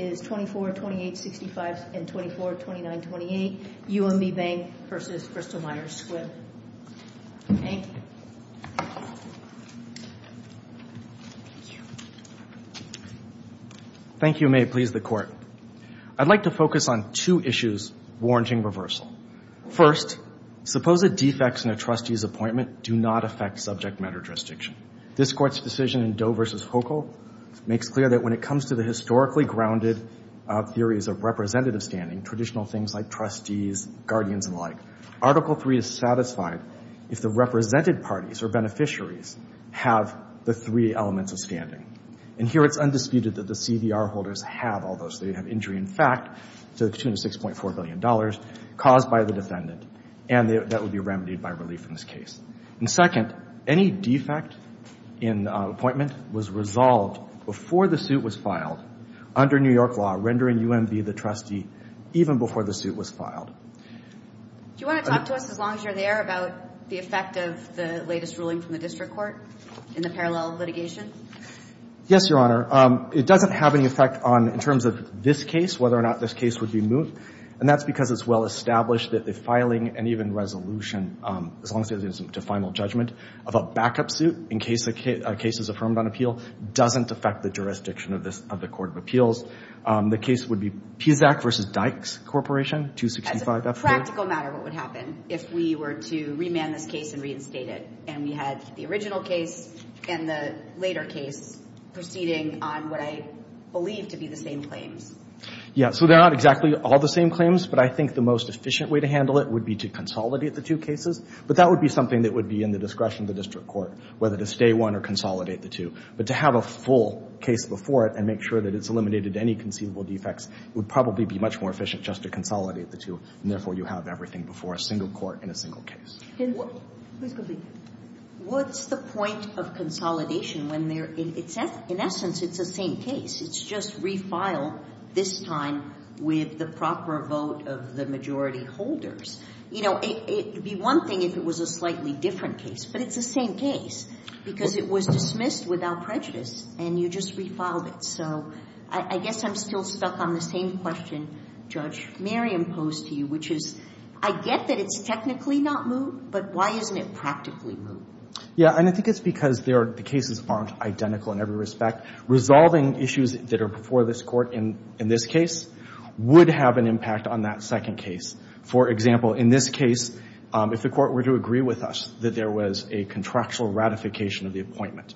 is 24-28-65 and 24-29-28 UMB Bank v. Bristol-Myers Squibb. Thank you. Thank you. May it please the Court. I'd like to focus on two issues warranting reversal. First, suppose a defect in a trustee's appointment do not affect subject matter jurisdiction. This Court's decision in Doe v. Hochul makes clear that when it comes to the historically grounded theories of representative standing, traditional things like trustees, guardians, and the like, Article III is satisfied if the represented parties or beneficiaries have the three elements of standing. And here it's undisputed that the CVR holders have all those. They have injury in fact to the tune of $6.4 billion caused by the defendant, and that would be remedied by relief in this case. And second, any defect in appointment was resolved before the suit was filed under New York law, rendering UMB the trustee even before the suit was filed. Do you want to talk to us, as long as you're there, about the effect of the latest ruling from the district court in the parallel litigation? Yes, Your Honor. It doesn't have any effect on, in terms of this case, whether or not this case would be moot, and that's because it's well-established that the filing and even resolution, as long as it isn't a final judgment of a backup suit in cases affirmed on appeal, doesn't affect the jurisdiction of the Court of Appeals. The case would be PISAC v. Dykes Corporation, 265F4. As a practical matter, what would happen if we were to remand this case and reinstate it, and we had the original case and the later case proceeding on what I believe to be the same claims? Yeah. So they're not exactly all the same claims, but I think the most efficient way to handle it would be to consolidate the two cases. But that would be something that would be in the discretion of the district court, whether to stay one or consolidate the two. But to have a full case before it and make sure that it's eliminated any conceivable defects would probably be much more efficient just to consolidate the two, and therefore you have everything before a single court in a single case. Please continue. What's the point of consolidation when, in essence, it's the same case? It's just refiled this time with the proper vote of the majority holders. You know, it would be one thing if it was a slightly different case, but it's the same case because it was dismissed without prejudice and you just refiled it. So I guess I'm still stuck on the same question Judge Merriam posed to you, which is I get that it's technically not moved, but why isn't it practically moved? Yeah. And I think it's because the cases aren't identical in every respect. Resolving issues that are before this court in this case would have an impact on that second case. For example, in this case, if the court were to agree with us that there was a contractual ratification of the appointment,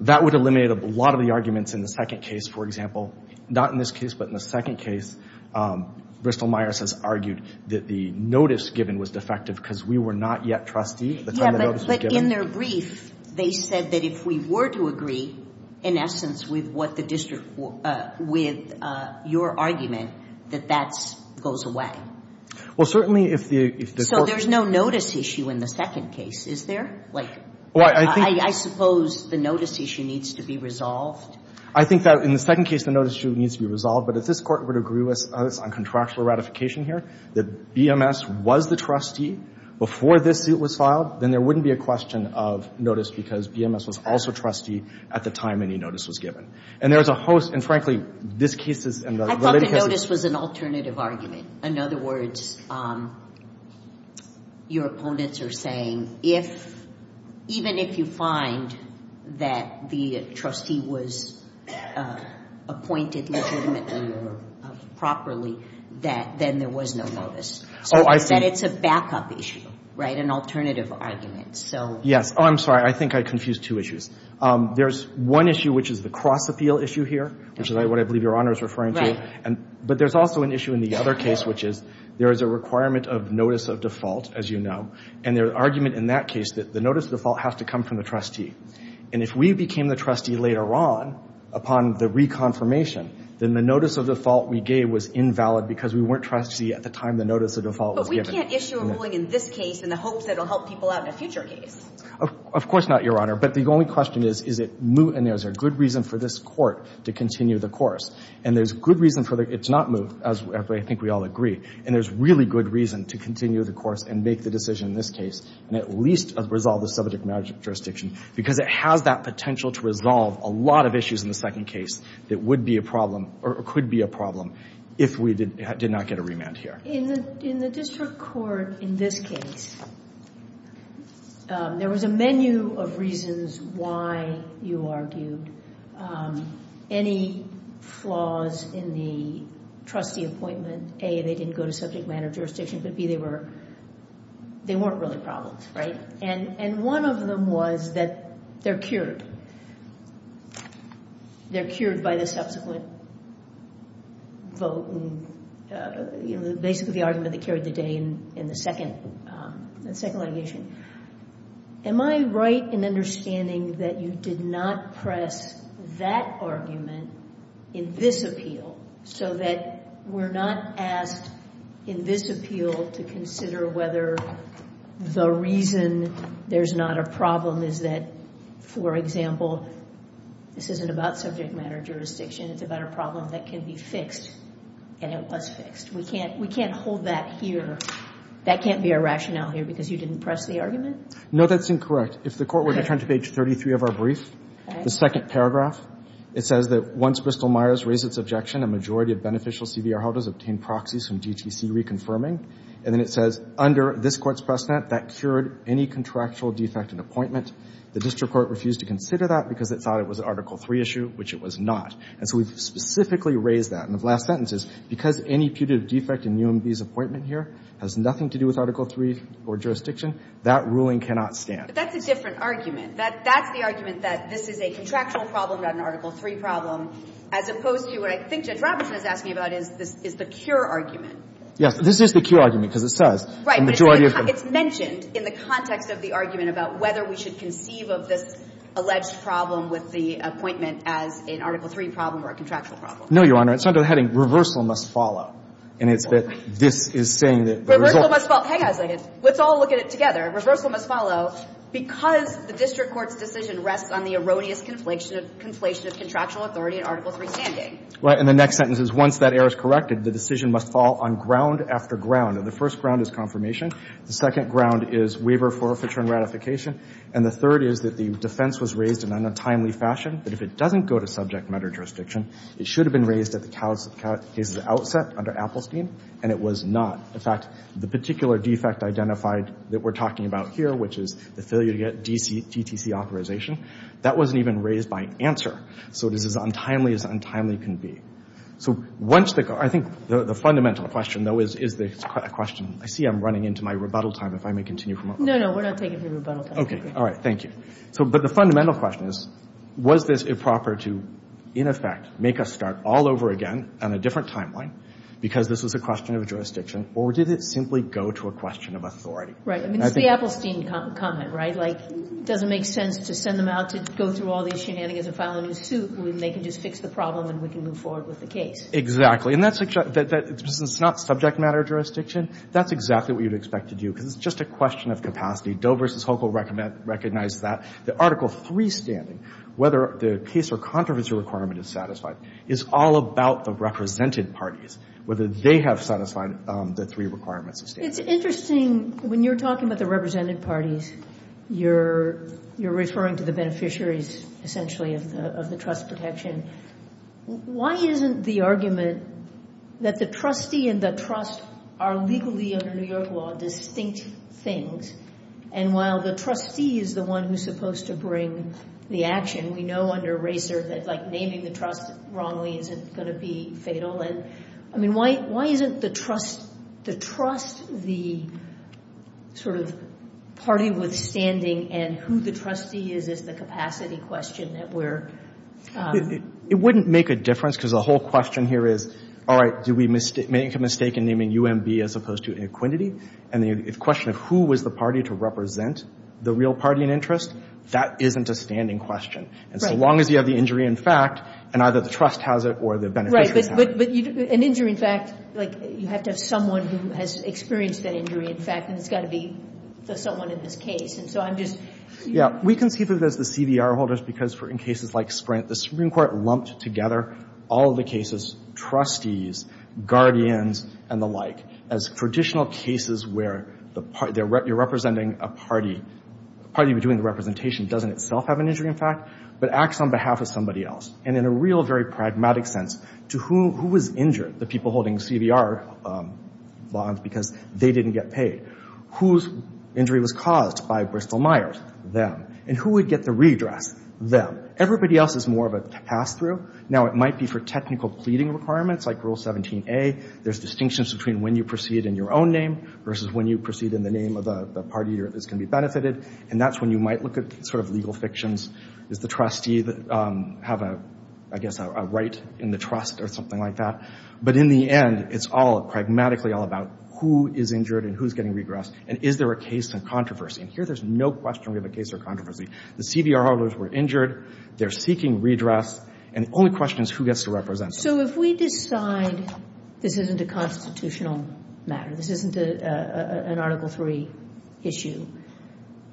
that would eliminate a lot of the arguments in the second case, for example. Not in this case, but in the second case, Bristol Myers has argued that the notice given was defective because we were not yet trustee. But in their brief, they said that if we were to agree, in essence, with what the district, with your argument, that that goes away. Well, certainly, if the court. So there's no notice issue in the second case, is there? I suppose the notice issue needs to be resolved. I think that in the second case, the notice issue needs to be resolved. But if this Court were to agree with us on contractual ratification here, that BMS was the trustee before this suit was filed, then there wouldn't be a question of notice because BMS was also trustee at the time any notice was given. And there's a host, and frankly, this case is... I thought the notice was an alternative argument. In other words, your opponents are saying if, even if you find that the trustee was appointed legitimately or properly, then there was no notice. So you said it's a backup issue, right, an alternative argument. Yes. Oh, I'm sorry. I think I confused two issues. There's one issue, which is the cross-appeal issue here, which is what I believe Your Honor is referring to. But there's also an issue in the other case, which is there is a requirement of notice of default, as you know. And there's an argument in that case that the notice of default has to come from the trustee. And if we became the trustee later on, upon the reconfirmation, then the notice of default we gave was invalid because we weren't trustee at the time the notice of default was given. But we can't issue a ruling in this case in the hopes that it will help people out in a future case. Of course not, Your Honor. But the only question is, is it moot? And is there good reason for this Court to continue the course? And there's good reason for the... It's not moot, as I think we all agree. And there's really good reason to continue the course and make the decision in this case and at least resolve the subject matter jurisdiction because it has that potential to resolve a lot of issues in the second case that would be a problem or could be a problem if we did not get a remand here. In the district court in this case, there was a menu of reasons why you argued any flaws in the trustee appointment. A, they didn't go to subject matter jurisdiction, but B, they weren't really problems, right? And one of them was that they're cured. They're cured by the subsequent vote and basically the argument that carried the day in the second litigation. Am I right in understanding that you did not press that argument in this appeal so that we're not asked in this appeal to consider whether the reason there's not a problem is that, for example, this isn't about subject matter jurisdiction. It's about a problem that can be fixed, and it was fixed. We can't hold that here. That can't be our rationale here because you didn't press the argument? No, that's incorrect. If the Court were to turn to page 33 of our brief, the second paragraph, it says that once Bristol-Myers raised its objection, a majority of beneficial CBR holders obtained proxies from DTC reconfirming. And then it says, under this Court's precedent, that cured any contractual defect in appointment. The district court refused to consider that because it thought it was an Article III issue, which it was not. And so we've specifically raised that in the last sentences. Because any putative defect in UMB's appointment here has nothing to do with Article III or jurisdiction, that ruling cannot stand. But that's a different argument. That's the argument that this is a contractual problem, not an Article III problem, as opposed to what I think Judge Robinson is asking about is the cure argument. Yes. This is the cure argument because it says. Right. It's mentioned in the context of the argument about whether we should conceive of this alleged problem with the appointment as an Article III problem or a contractual problem. No, Your Honor. It's under the heading, reversal must follow. And it's that this is saying that the result. Reversal must follow. Hang on a second. Let's all look at it together. Reversal must follow because the district court's decision rests on the erroneous conflation of contractual authority in Article III standing. Right. And the next sentence is, once that error is corrected, the decision must fall on ground after ground. And the first ground is confirmation. The second ground is waiver for a fraternal ratification. And the third is that the defense was raised in a timely fashion. But if it doesn't go to subject matter jurisdiction, it should have been raised at the case's outset under Appelstein, and it was not. In fact, the particular defect identified that we're talking about here, which is the failure to get DTC authorization, that wasn't even raised by answer. So it is as untimely as untimely can be. So I think the fundamental question, though, is the question. I see I'm running into my rebuttal time, if I may continue from over there. No, no. We're not taking your rebuttal time. Okay. All right. Thank you. But the fundamental question is, was this improper to, in effect, make us start all over again on a different timeline because this was a question of jurisdiction, or did it simply go to a question of authority? Right. I mean, this is the Appelstein comment, right? Like, it doesn't make sense to send them out to go through all these shenanigans and file a new suit when they can just fix the problem and we can move forward with the case. Exactly. And that's not subject matter jurisdiction. That's exactly what you'd expect to do because it's just a question of capacity. Doe v. Hochul recognized that. The Article III standing, whether the case or controversy requirement is satisfied, is all about the represented parties, whether they have satisfied the three requirements of state law. It's interesting. When you're talking about the represented parties, you're referring to the beneficiaries, essentially, of the trust protection. Why isn't the argument that the trustee and the trust are legally, under New York law, distinct things, and while the trustee is the one who's supposed to bring the action, and we know under RACER that, like, naming the trust wrongly isn't going to be fatal? And, I mean, why isn't the trust the sort of party withstanding and who the trustee is is the capacity question that we're... It wouldn't make a difference because the whole question here is, all right, do we make a mistake in naming UMB as opposed to iniquity? And the question of who was the party to represent the real party in interest, that isn't a standing question. Right. And so long as you have the injury in fact, and either the trust has it or the beneficiaries have it. But an injury in fact, like, you have to have someone who has experienced that injury in fact, and it's got to be someone in this case. And so I'm just... Yeah. We conceive of it as the CVR holders because in cases like Sprint, the Supreme Court lumped together all of the cases, trustees, guardians, and the like, as traditional cases where you're representing a party, a party between the representation doesn't itself have an injury in fact, but acts on behalf of somebody else. And in a real, very pragmatic sense, to who was injured? The people holding CVR bonds because they didn't get paid. Whose injury was caused by Bristol-Myers? Them. And who would get the redress? Them. Everybody else is more of a pass-through. Now, it might be for technical pleading requirements like Rule 17a. There's distinctions between when you proceed in your own name versus when you proceed in the name of the party that's going to be benefited. And that's when you might look at sort of legal fictions. Does the trustee have a, I guess, a right in the trust or something like that? But in the end, it's all pragmatically all about who is injured and who's getting redressed. And is there a case of controversy? And here there's no question we have a case of controversy. The CVR holders were injured. They're seeking redress. And the only question is who gets to represent them. So if we decide this isn't a constitutional matter, this isn't an Article III issue,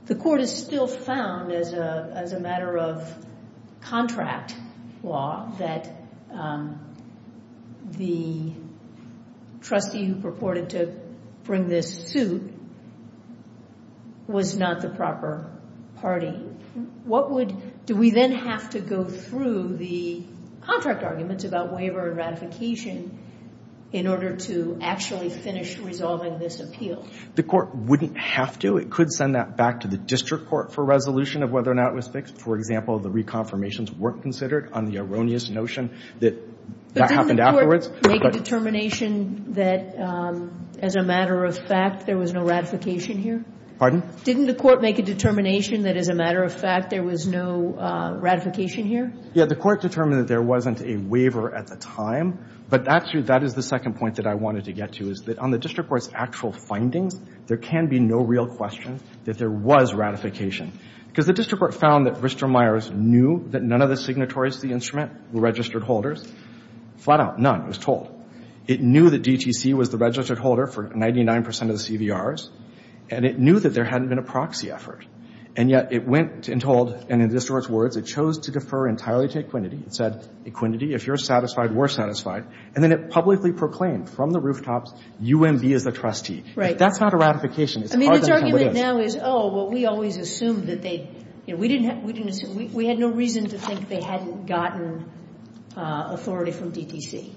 the court has still found as a matter of contract law that the trustee who purported to bring this suit was not the proper party. So what would, do we then have to go through the contract arguments about waiver and ratification in order to actually finish resolving this appeal? The court wouldn't have to. It could send that back to the district court for resolution of whether or not it was fixed. For example, the reconfirmations weren't considered on the erroneous notion that that happened afterwards. But didn't the court make a determination that as a matter of fact there was no ratification here? Pardon? Didn't the court make a determination that as a matter of fact there was no ratification here? The court determined that there wasn't a waiver at the time. But actually that is the second point that I wanted to get to is that on the district court's actual findings, there can be no real question that there was ratification. Because the district court found that Vister Myers knew that none of the signatories to the instrument were registered holders. Flat out, none. It was told. It knew that DTC was the registered holder for 99 percent of the CVRs. And it knew that there hadn't been a proxy effort. And yet it went and told, and in the district's words, it chose to defer entirely to Equinity. It said, Equinity, if you're satisfied, we're satisfied. And then it publicly proclaimed from the rooftops, UMB is the trustee. Right. That's not a ratification. I mean, it's argument now is, oh, well, we always assumed that they, you know, we didn't have, we didn't assume, we had no reason to think they hadn't gotten authority from DTC.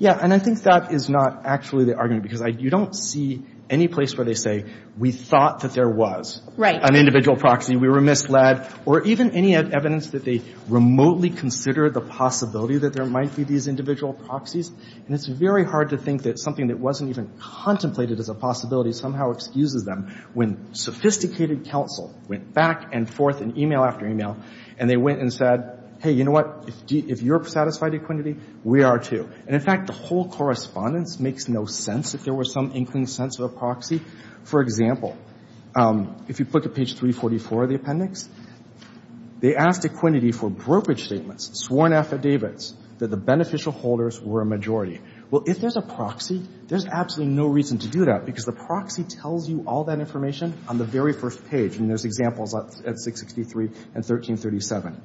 Yeah. And I think that is not actually the argument. Because you don't see any place where they say, we thought that there was. Right. An individual proxy. We were misled. Or even any evidence that they remotely considered the possibility that there might be these individual proxies. And it's very hard to think that something that wasn't even contemplated as a possibility somehow excuses them when sophisticated counsel went back and forth in email after email, and they went and said, hey, you know what, if you're satisfied, Equinity, we are, too. And in fact, the whole correspondence makes no sense if there were some inkling sense of a proxy. For example, if you look at page 344 of the appendix, they asked Equinity for brokerage statements, sworn affidavits, that the beneficial holders were a majority. Well, if there's a proxy, there's absolutely no reason to do that, because the proxy tells you all that information on the very first page. And there's examples at 663 and 1337.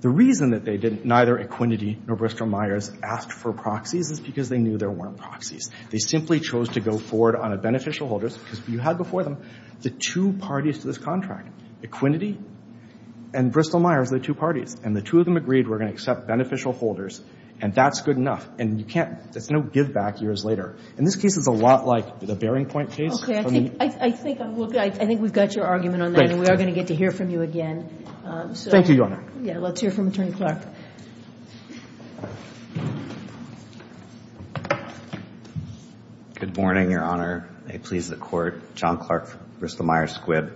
The reason that they didn't, neither Equinity nor Bristol-Myers asked for proxies is because they knew there weren't proxies. They simply chose to go forward on a beneficial holders, because you had before them the two parties to this contract, Equinity and Bristol-Myers, the two parties. And the two of them agreed we're going to accept beneficial holders, and that's good enough. And you can't, there's no give back years later. And this case is a lot like the Baring Point case. Okay. I think we've got your argument on that, and we are going to get to hear from you again. Thank you, Your Honor. Yeah, let's hear from Attorney Clark. Good morning, Your Honor. May it please the Court. John Clark, Bristol-Myers Squibb.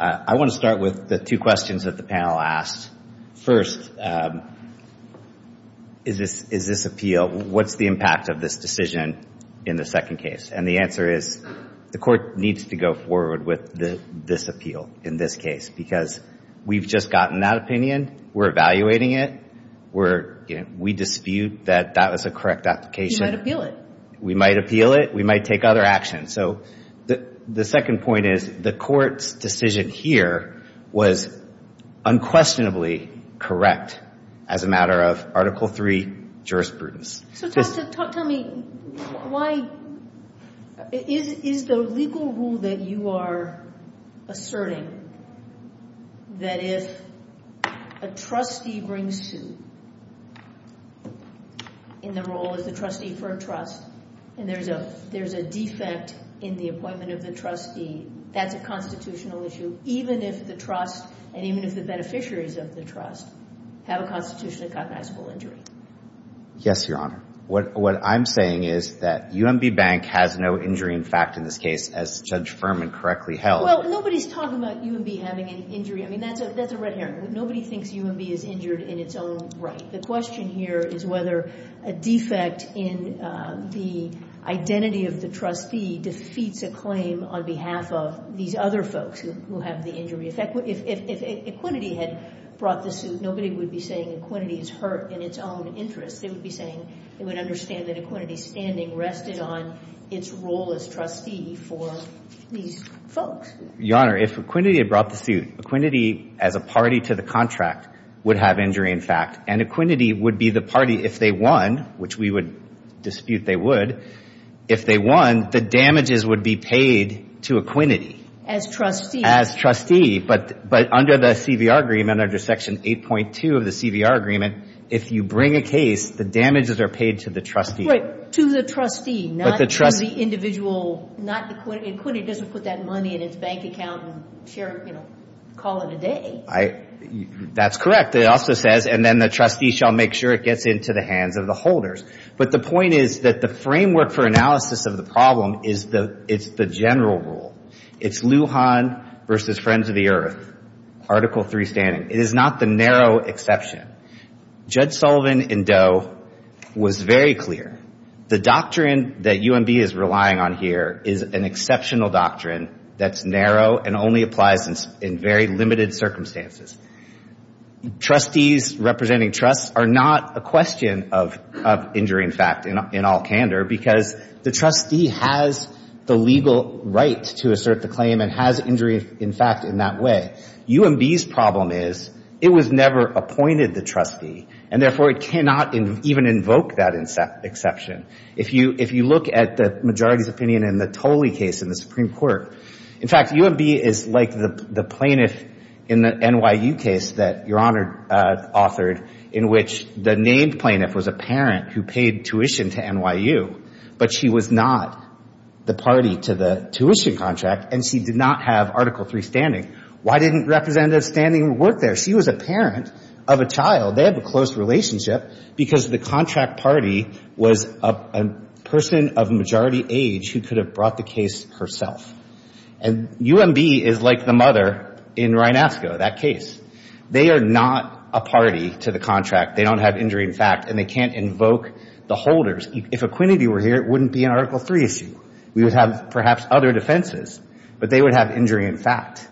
I want to start with the two questions that the panel asked. First, is this appeal, what's the impact of this decision in the second case? And the answer is the Court needs to go forward with this appeal in this case, because we've just gotten that opinion. We're evaluating it. We dispute that that was a correct application. You might appeal it. We might appeal it. We might take other action. So the second point is the Court's decision here was unquestionably correct as a matter of Article III jurisprudence. So tell me, is the legal rule that you are asserting that if a trustee brings suit in the role of the trustee for a trust, and there's a defect in the appointment of the trustee, that's a constitutional issue, even if the trust and even if the beneficiaries of the trust have a constitutionally cognizable injury? Yes, Your Honor. What I'm saying is that UMB Bank has no injury in fact in this case, as Judge Furman correctly held. Well, nobody's talking about UMB having an injury. I mean, that's a red herring. Nobody thinks UMB is injured in its own right. The question here is whether a defect in the identity of the trustee defeats a claim on behalf of these other folks who have the injury. In fact, if Equinity had brought the suit, nobody would be saying Equinity is hurt in its own interest. They would be saying they would understand that Equinity's standing rested on its role as trustee for these folks. Your Honor, if Equinity had brought the suit, Equinity as a party to the contract would have injury in fact, and Equinity would be the party if they won, which we would dispute they would. If they won, the damages would be paid to Equinity. As trustee. As trustee, but under the CVR agreement, under Section 8.2 of the CVR agreement, if you bring a case, the damages are paid to the trustee. Right, to the trustee, not to the individual. And Equinity doesn't put that money in its bank account and call it a day. That's correct. It also says, and then the trustee shall make sure it gets into the hands of the holders. But the point is that the framework for analysis of the problem is the general rule. It's Lujan versus Friends of the Earth, Article 3 standing. It is not the narrow exception. Judge Sullivan in Doe was very clear. The doctrine that UMB is relying on here is an exceptional doctrine that's narrow and only applies in very limited circumstances. Trustees representing trusts are not a question of injury in fact in all candor because the trustee has the legal right to assert the claim and has injury in fact in that way. UMB's problem is it was never appointed the trustee, and therefore it cannot even invoke that exception. If you look at the majority's opinion in the Tolley case in the Supreme Court, in fact UMB is like the plaintiff in the NYU case that Your Honor authored in which the named plaintiff was a parent who paid tuition to NYU, but she was not the party to the tuition contract and she did not have Article 3 standing. Why didn't Representative Standing work there? She was a parent of a child. They have a close relationship because the contract party was a person of majority age who could have brought the case herself. And UMB is like the mother in Reinesco, that case. They are not a party to the contract. They don't have injury in fact, and they can't invoke the holders. If a quinnity were here, it wouldn't be an Article 3 issue. We would have perhaps other defenses, but they would have injury in fact.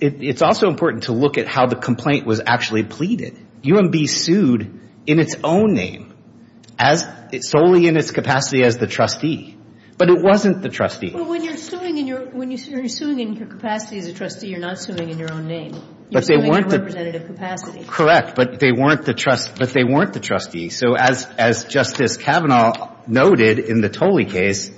It's also important to look at how the complaint was actually pleaded. UMB sued in its own name as solely in its capacity as the trustee, but it wasn't the trustee. But when you're suing in your capacity as a trustee, you're not suing in your own name. You're suing in a representative capacity. Correct, but they weren't the trustee. So as Justice Kavanaugh noted in the Toley case,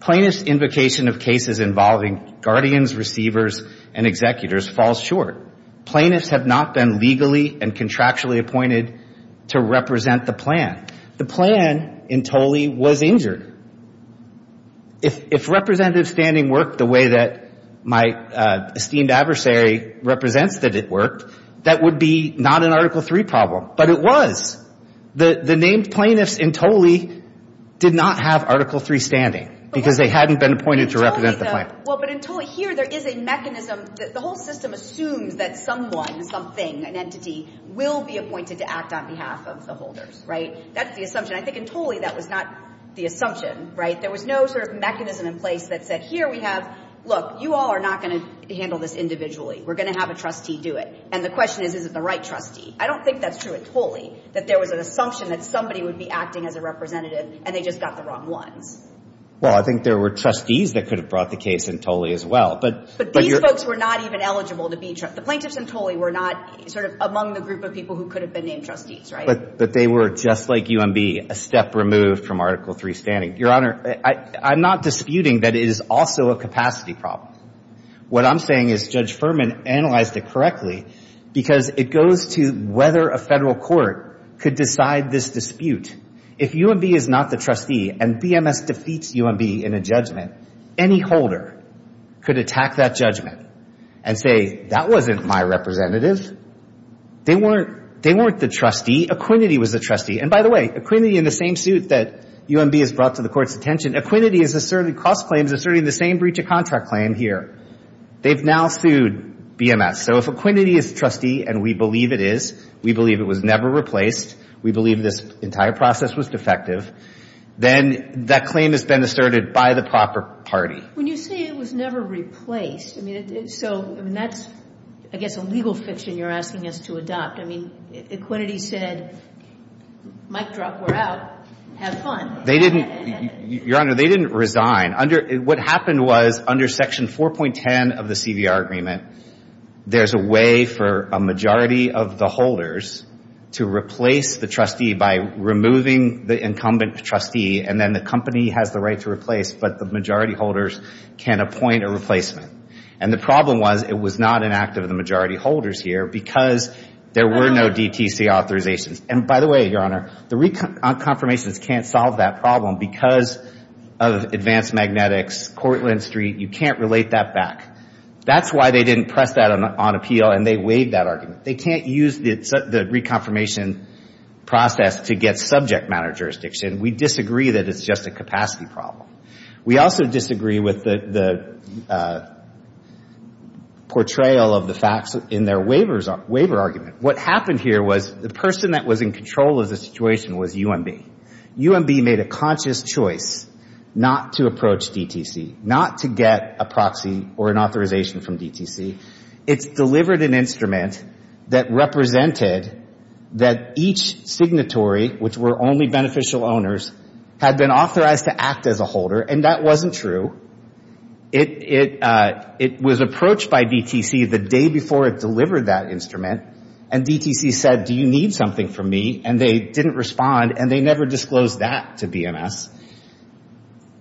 plaintiff's invocation of cases involving guardians, receivers, and executors falls short. Plaintiffs have not been legally and contractually appointed to represent the plan. The plan in Toley was injured. If Representative Standing worked the way that my esteemed adversary represents that it worked, that would be not an Article 3 problem. But it was. The named plaintiffs in Toley did not have Article 3 standing because they hadn't been appointed to represent the plan. Well, but in Toley here there is a mechanism. The whole system assumes that someone, something, an entity will be appointed to act on behalf of the holders, right? That's the assumption. I think in Toley that was not the assumption, right? There was no sort of mechanism in place that said here we have, look, you all are not going to handle this individually. We're going to have a trustee do it. And the question is, is it the right trustee? I don't think that's true at Toley that there was an assumption that somebody would be acting as a representative and they just got the wrong ones. Well, I think there were trustees that could have brought the case in Toley as well. But these folks were not even eligible to be trustees. The plaintiffs in Toley were not sort of among the group of people who could have been named trustees, right? But they were just like UMB, a step removed from Article 3 standing. Your Honor, I'm not disputing that it is also a capacity problem. What I'm saying is Judge Furman analyzed it correctly because it goes to whether a federal court could decide this dispute. If UMB is not the trustee and BMS defeats UMB in a judgment, any holder could attack that judgment and say, that wasn't my representative. They weren't the trustee. Equinity was the trustee. And by the way, Equinity in the same suit that UMB has brought to the court's attention, Equinity has asserted cross-claims asserting the same breach of contract claim here. They've now sued BMS. So if Equinity is the trustee, and we believe it is, we believe it was never replaced, we believe this entire process was defective, then that claim has been asserted by the proper party. When you say it was never replaced, I mean, so that's, I guess, a legal fiction you're asking us to adopt. I mean, Equinity said, mic drop, we're out, have fun. They didn't, Your Honor, they didn't resign. What happened was under Section 4.10 of the CVR agreement, there's a way for a majority of the holders to replace the trustee by removing the incumbent trustee, and then the company has the right to replace, but the majority holders can't appoint a replacement. And the problem was it was not an act of the majority holders here because there were no DTC authorizations. And by the way, Your Honor, the reconfirmations can't solve that problem because of advanced magnetics, Courtland Street, you can't relate that back. That's why they didn't press that on appeal and they waived that argument. They can't use the reconfirmation process to get subject matter jurisdiction. We disagree that it's just a capacity problem. We also disagree with the portrayal of the facts in their waiver argument. What happened here was the person that was in control of the situation was UMB. UMB made a conscious choice not to approach DTC, not to get a proxy or an authorization from DTC. It's delivered an instrument that represented that each signatory, which were only beneficial owners, had been authorized to act as a holder, and that wasn't true. It was approached by DTC the day before it delivered that instrument and DTC said, do you need something from me? And they didn't respond and they never disclosed that to BMS.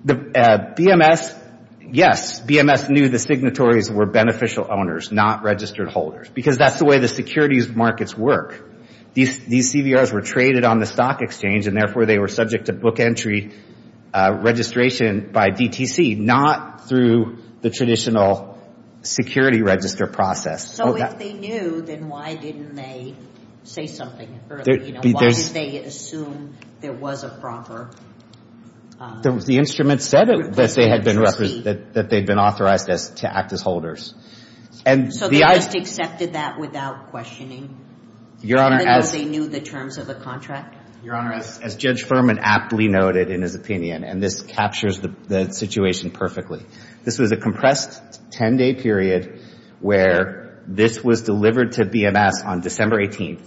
BMS, yes, BMS knew the signatories were beneficial owners, not registered holders, because that's the way the securities markets work. These CVRs were traded on the stock exchange and therefore they were subject to book entry registration by DTC, not through the traditional security register process. So if they knew, then why didn't they say something earlier? Why did they assume there was a proper? The instrument said that they had been authorized to act as holders. So they just accepted that without questioning? Until they knew the terms of the contract? Your Honor, as Judge Furman aptly noted in his opinion, and this captures the situation perfectly, this was a compressed 10-day period where this was delivered to BMS on December 18th.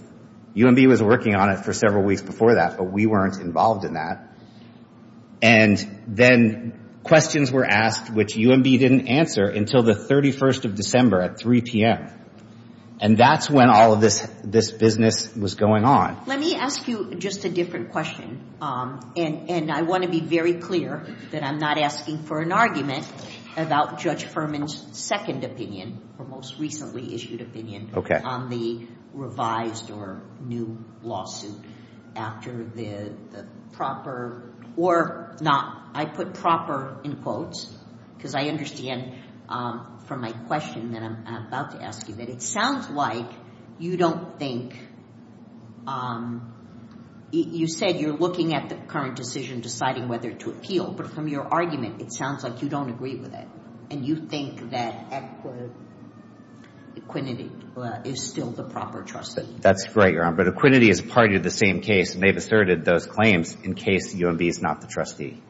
UMB was working on it for several weeks before that, but we weren't involved in that. And then questions were asked which UMB didn't answer until the 31st of December at 3 p.m. And that's when all of this business was going on. Let me ask you just a different question. And I want to be very clear that I'm not asking for an argument about Judge Furman's second opinion or most recently issued opinion on the revised or new lawsuit after the proper or not. I put proper in quotes because I understand from my question that I'm about to ask you, that it sounds like you don't think, you said you're looking at the current decision deciding whether to appeal. But from your argument, it sounds like you don't agree with it. And you think that, quote, equinity is still the proper trustee. That's right, Your Honor. But equinity is a party to the same case, and they've asserted those claims in case UMB is not the trustee.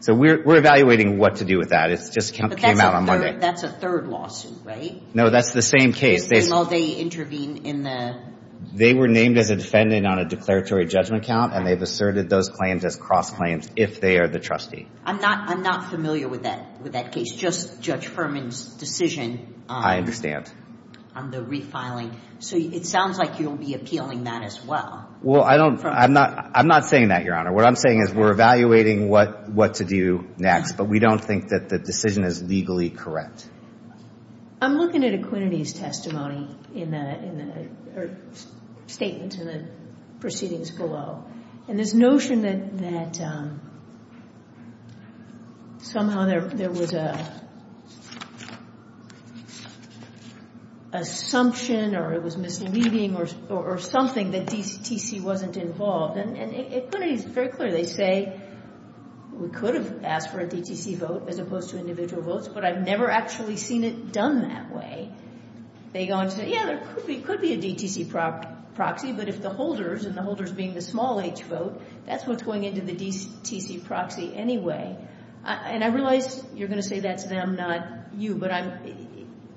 So we're evaluating what to do with that. It just came out on Monday. But that's a third lawsuit, right? No, that's the same case. Even though they intervene in the – They were named as a defendant on a declaratory judgment count, and they've asserted those claims as cross-claims if they are the trustee. I'm not familiar with that case, just Judge Furman's decision on the refiling. So it sounds like you'll be appealing that as well. Well, I don't – I'm not saying that, Your Honor. What I'm saying is we're evaluating what to do next, but we don't think that the decision is legally correct. I'm looking at equinity's testimony in the – or statement in the proceedings below. And this notion that somehow there was an assumption or it was misleading or something that DTC wasn't involved. And equinity is very clear. They say we could have asked for a DTC vote as opposed to individual votes, but I've never actually seen it done that way. They go and say, yeah, there could be a DTC proxy, but if the holders, and the holders being the small-H vote, that's what's going into the DTC proxy anyway. And I realize you're going to say that's them, not you, but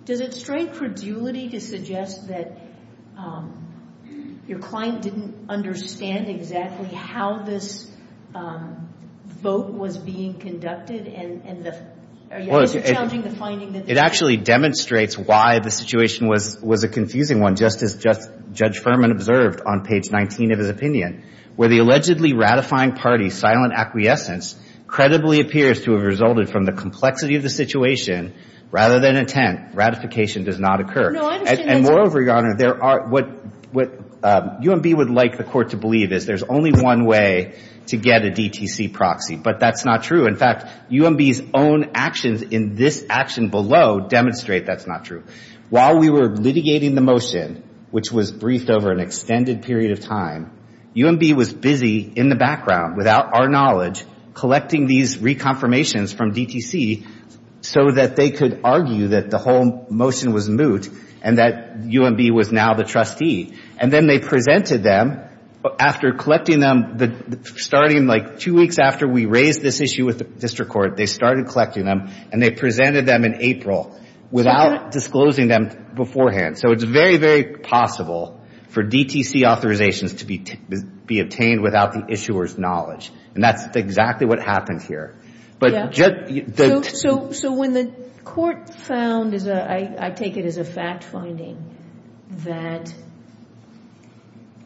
does it strain credulity to suggest that your client didn't understand exactly how this vote was being conducted? And is it challenging the finding that the – No, I understand that. And moreover, Your Honor, there are – what UMB would like the court to believe is there's only one way to get a DTC proxy, but that's not true. In fact, UMB's own actions in this action below demonstrate that's not true. While we were litigating the motion, which was briefed over an extended period of time, UMB was busy in the background, without our knowledge, collecting these re-confirmations from DTC so that they could argue that the whole motion was moot and that UMB was now the trustee. And then they presented them. After collecting them, starting like two weeks after we raised this issue with the district court, they started collecting them, and they presented them in April without disclosing them beforehand. So it's very, very possible for DTC authorizations to be obtained without the issuer's knowledge, and that's exactly what happened here. Yeah. But just – So when the court found, I take it as a fact finding, that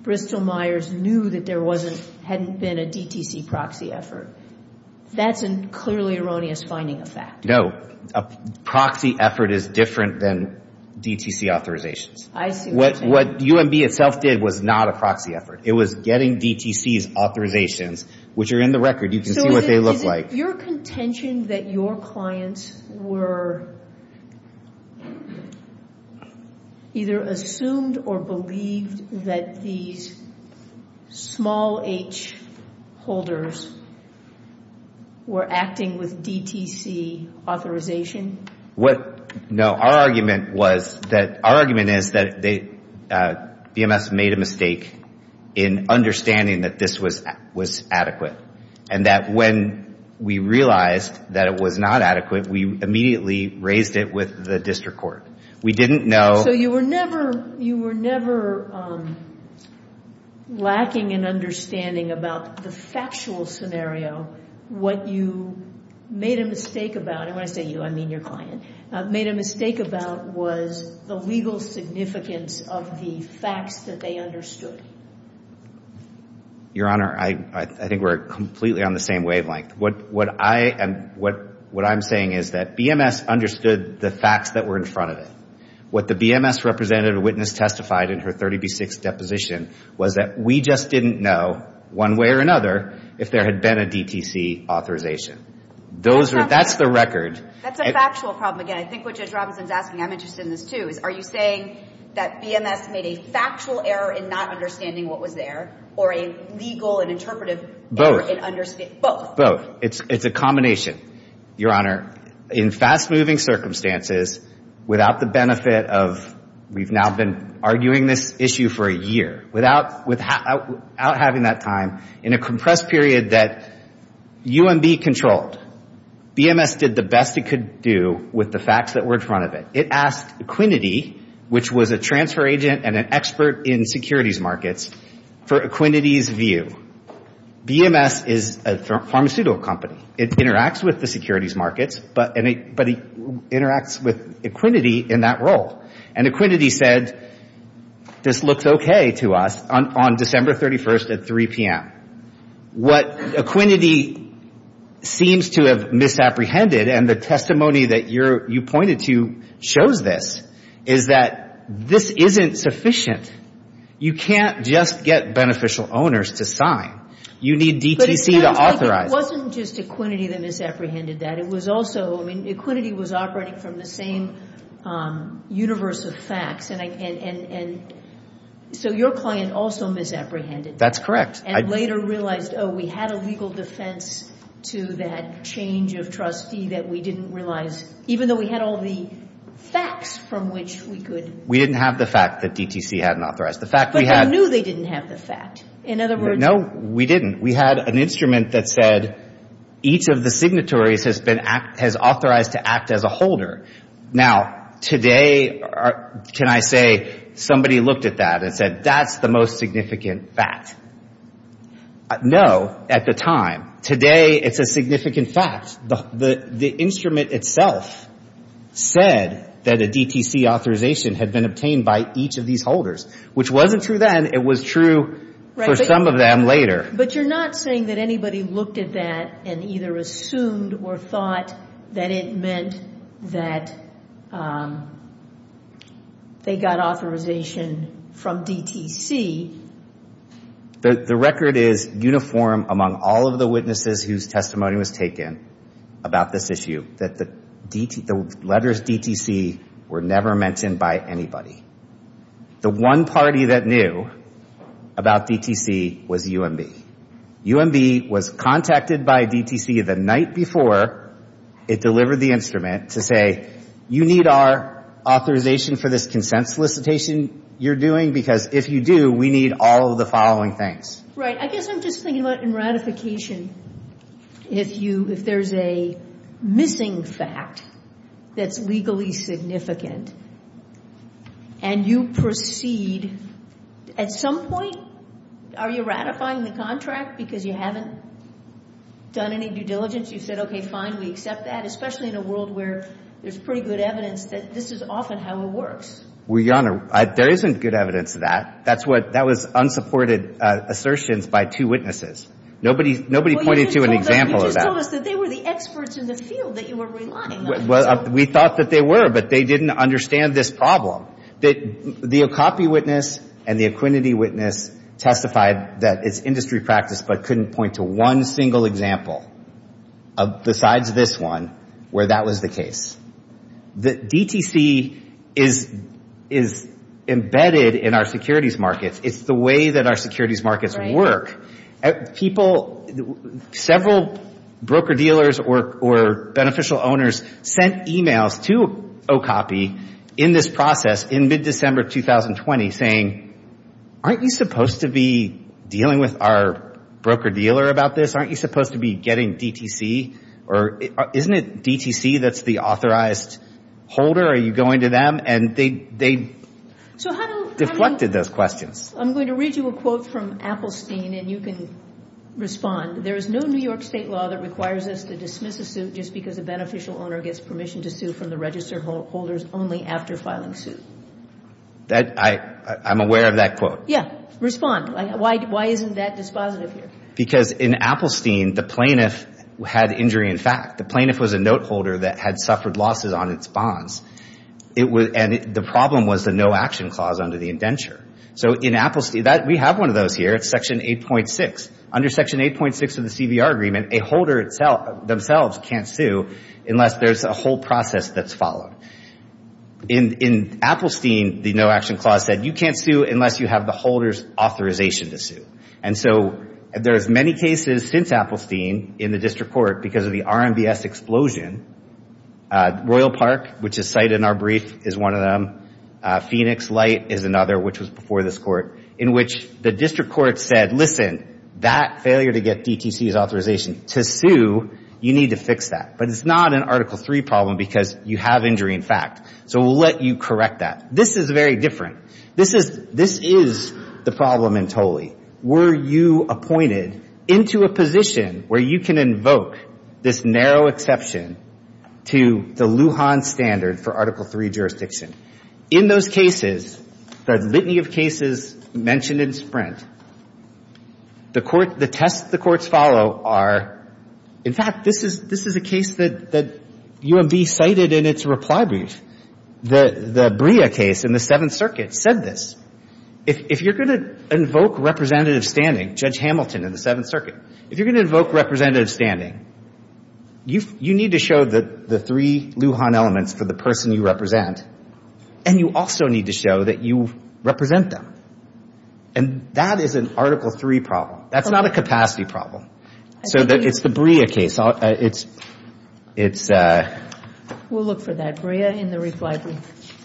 Bristol-Myers knew that there wasn't – hadn't been a DTC proxy effort, that's a clearly erroneous finding of fact. No. A proxy effort is different than DTC authorizations. I see what you're saying. What UMB itself did was not a proxy effort. It was getting DTC's authorizations, which are in the record. You can see what they look like. Was it your contention that your clients were either assumed or believed that these small H holders were acting with DTC authorization? What – no. Our argument was that – our argument is that BMS made a mistake in understanding that this was adequate and that when we realized that it was not adequate, we immediately raised it with the district court. We didn't know – So you were never – you were never lacking in understanding about the factual scenario. What you made a mistake about – and when I say you, I mean your client – made a mistake about was the legal significance of the facts that they understood. Your Honor, I think we're completely on the same wavelength. What I am – what I'm saying is that BMS understood the facts that were in front of it. What the BMS representative witness testified in her 30B6 deposition was that we just didn't know, one way or another, if there had been a DTC authorization. Those are – that's the record. That's a factual problem again. I think what Judge Robinson is asking – I'm interested in this too – is are you saying that BMS made a factual error in not understanding what was there or a legal and interpretive error in understanding – Both. Both. It's a combination, Your Honor. In fast-moving circumstances, without the benefit of – we've now been arguing this issue for a year. Without having that time, in a compressed period that UMB controlled, BMS did the best it could do with the facts that were in front of it. It asked Equinity, which was a transfer agent and an expert in securities markets, for Equinity's view. BMS is a pharmaceutical company. It interacts with the securities markets, but it interacts with Equinity in that role. And Equinity said, this looks okay to us, on December 31st at 3 p.m. What Equinity seems to have misapprehended, and the testimony that you pointed to shows this, is that this isn't sufficient. You can't just get beneficial owners to sign. You need DTC to authorize it. But it sounds like it wasn't just Equinity that misapprehended that. It was also – I mean, Equinity was operating from the same universe of facts, and so your client also misapprehended that. That's correct. And later realized, oh, we had a legal defense to that change of trustee that we didn't realize, even though we had all the facts from which we could. We didn't have the fact that DTC hadn't authorized. But who knew they didn't have the fact? In other words – No, we didn't. We had an instrument that said each of the signatories has authorized to act as a holder. Now, today, can I say, somebody looked at that and said, that's the most significant fact. No, at the time. Today, it's a significant fact. The instrument itself said that a DTC authorization had been obtained by each of these holders, which wasn't true then. It was true for some of them later. But you're not saying that anybody looked at that and either assumed or thought that it meant that they got authorization from DTC. The record is uniform among all of the witnesses whose testimony was taken about this issue, that the letters DTC were never mentioned by anybody. The one party that knew about DTC was UMB. UMB was contacted by DTC the night before it delivered the instrument to say, you need our authorization for this consent solicitation you're doing, because if you do, we need all of the following things. Right. I guess I'm just thinking about in ratification, if there's a missing fact that's legally significant, and you proceed, at some point, are you ratifying the contract because you haven't done any due diligence? You said, okay, fine, we accept that, especially in a world where there's pretty good evidence that this is often how it works. Your Honor, there isn't good evidence of that. That was unsupported assertions by two witnesses. Nobody pointed to an example of that. Well, you just told us that they were the experts in the field that you were relying on. We thought that they were, but they didn't understand this problem. The Okapi witness and the Equinity witness testified that it's industry practice, but couldn't point to one single example besides this one where that was the case. DTC is embedded in our securities markets. It's the way that our securities markets work. Several broker-dealers or beneficial owners sent emails to Okapi in this process in mid-December 2020 saying, aren't you supposed to be dealing with our broker-dealer about this? Aren't you supposed to be getting DTC? Isn't it DTC that's the authorized holder? Are you going to them? And they deflected those questions. I'm going to read you a quote from Appelstein, and you can respond. There is no New York State law that requires us to dismiss a suit just because a beneficial owner gets permission to sue from the registered holders only after filing suit. I'm aware of that quote. Yeah, respond. Why isn't that dispositive here? Because in Appelstein, the plaintiff had injury in fact. The plaintiff was a note holder that had suffered losses on its bonds. And the problem was the no-action clause under the indenture. So in Appelstein, we have one of those here. It's Section 8.6. Under Section 8.6 of the CVR Agreement, a holder themselves can't sue unless there's a whole process that's followed. In Appelstein, the no-action clause said you can't sue unless you have the holder's authorization to sue. And so there's many cases since Appelstein in the district court because of the RMVS explosion. Royal Park, which is cited in our brief, is one of them. Phoenix Light is another, which was before this court, in which the district court said, listen, that failure to get DTC's authorization to sue, you need to fix that. But it's not an Article 3 problem because you have injury in fact. So we'll let you correct that. This is very different. This is the problem in Tole. Were you appointed into a position where you can invoke this narrow exception to the Lujan standard for Article 3 jurisdiction? In those cases, the litany of cases mentioned in Sprint, the court — the tests the courts follow are — in fact, this is a case that UMB cited in its reply brief. The Brea case in the Seventh Circuit said this. If you're going to invoke representative standing, Judge Hamilton in the Seventh Circuit, if you're going to invoke representative standing, you need to show the three Lujan elements for the person you represent. And you also need to show that you represent them. And that is an Article 3 problem. That's not a capacity problem. So it's the Brea case. We'll look for that. Brea in the reply brief.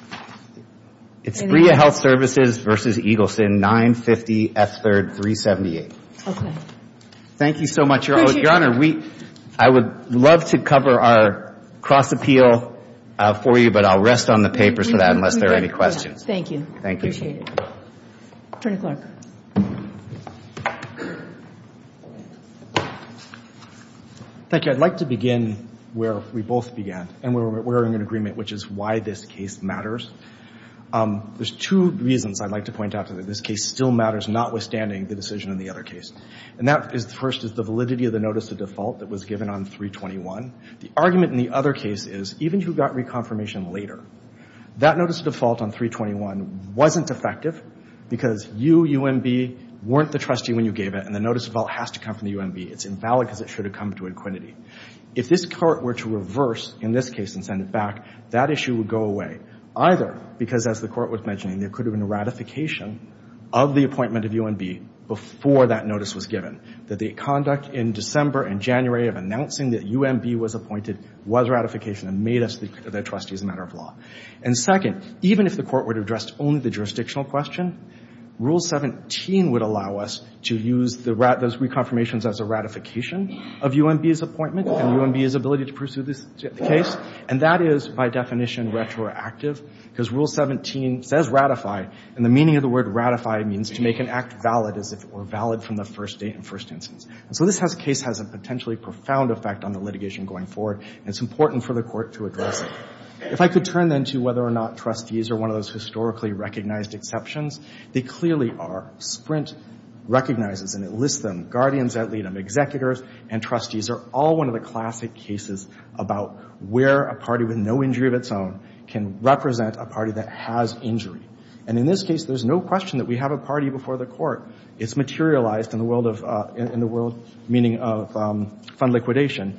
It's Brea Health Services v. Eagleson, 950 F. 3rd, 378. Okay. Thank you so much, Your Honor. I would love to cover our cross-appeal for you, but I'll rest on the papers for that unless there are any questions. Thank you. Thank you. Appreciate it. Attorney Clark. Thank you. Thank you. I'd like to begin where we both began and where we're in agreement, which is why this case matters. There's two reasons I'd like to point out that this case still matters, notwithstanding the decision in the other case. And that first is the validity of the notice of default that was given on 321. The argument in the other case is even who got reconfirmation later, That notice of default on 321 wasn't effective because you, UMB, weren't the trustee when you gave it, and the notice of default has to come from the UMB. It's invalid because it should have come to inquinity. If this Court were to reverse in this case and send it back, that issue would go away, either because, as the Court was mentioning, there could have been a ratification of the appointment of UMB before that notice was given, that the conduct in December and January of announcing that UMB was appointed was ratification and made us the trustee as a matter of law. And second, even if the Court were to address only the jurisdictional question, Rule 17 would allow us to use those reconfirmations as a ratification of UMB's appointment and UMB's ability to pursue this case. And that is, by definition, retroactive because Rule 17 says ratify, and the meaning of the word ratify means to make an act valid as if it were valid from the first instance. And so this case has a potentially profound effect on the litigation going forward, and it's important for the Court to address it. If I could turn, then, to whether or not trustees are one of those historically recognized exceptions, they clearly are. Sprint recognizes, and it lists them, guardians that lead them, executors and trustees are all one of the classic cases about where a party with no injury of its own can represent a party that has injury. And in this case, there's no question that we have a party before the Court. It's materialized in the world of, in the world, meaning of fund liquidation,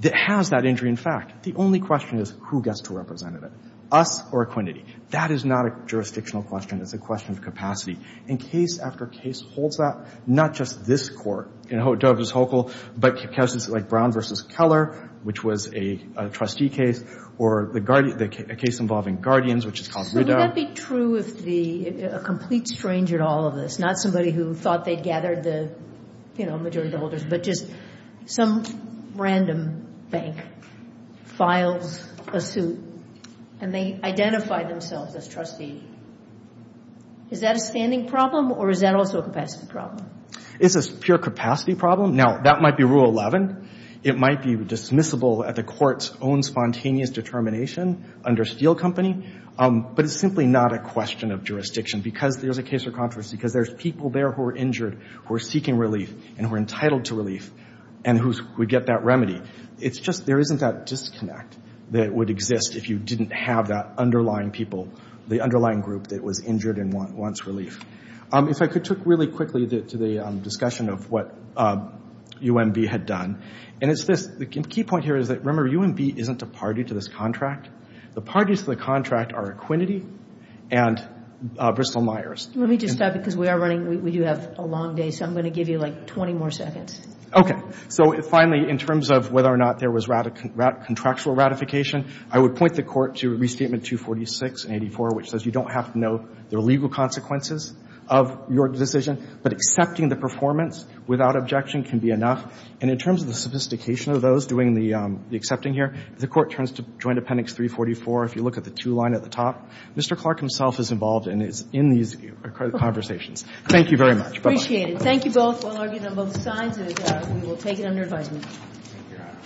that has that injury in fact. The only question is who gets to represent it, us or a quinnity. That is not a jurisdictional question. It's a question of capacity. And case after case holds that, not just this Court, you know, Dover v. Hochul, but cases like Brown v. Keller, which was a trustee case, or the case involving guardians, which is called Rideau. Would that be true if a complete stranger to all of this, not somebody who thought they'd gathered the majority of the holders, but just some random bank files a suit and they identify themselves as trustee? Is that a standing problem, or is that also a capacity problem? It's a pure capacity problem. Now, that might be Rule 11. It might be dismissible at the Court's own spontaneous determination under Steele Company. But it's simply not a question of jurisdiction, because there's a case or controversy, because there's people there who are injured, who are seeking relief, and who are entitled to relief, and who would get that remedy. It's just there isn't that disconnect that would exist if you didn't have that underlying people, the underlying group that was injured and wants relief. If I could talk really quickly to the discussion of what UMB had done. And it's this. The key point here is that, remember, UMB isn't a party to this contract. The parties to the contract are Equinity and Bristol-Myers. Let me just stop, because we are running. We do have a long day, so I'm going to give you, like, 20 more seconds. Okay. So finally, in terms of whether or not there was contractual ratification, I would point the Court to Restatement 246 and 84, which says you don't have to know the legal consequences of your decision, but accepting the performance without objection can be enough. And in terms of the sophistication of those doing the accepting here, the Court turns to Joint Appendix 344. If you look at the two line at the top, Mr. Clark himself is involved and is in these conversations. Thank you very much. Bye-bye. I appreciate it. Thank you both. I'll argue them both sides, and we will take it under advisement. Thank you, Your Honor.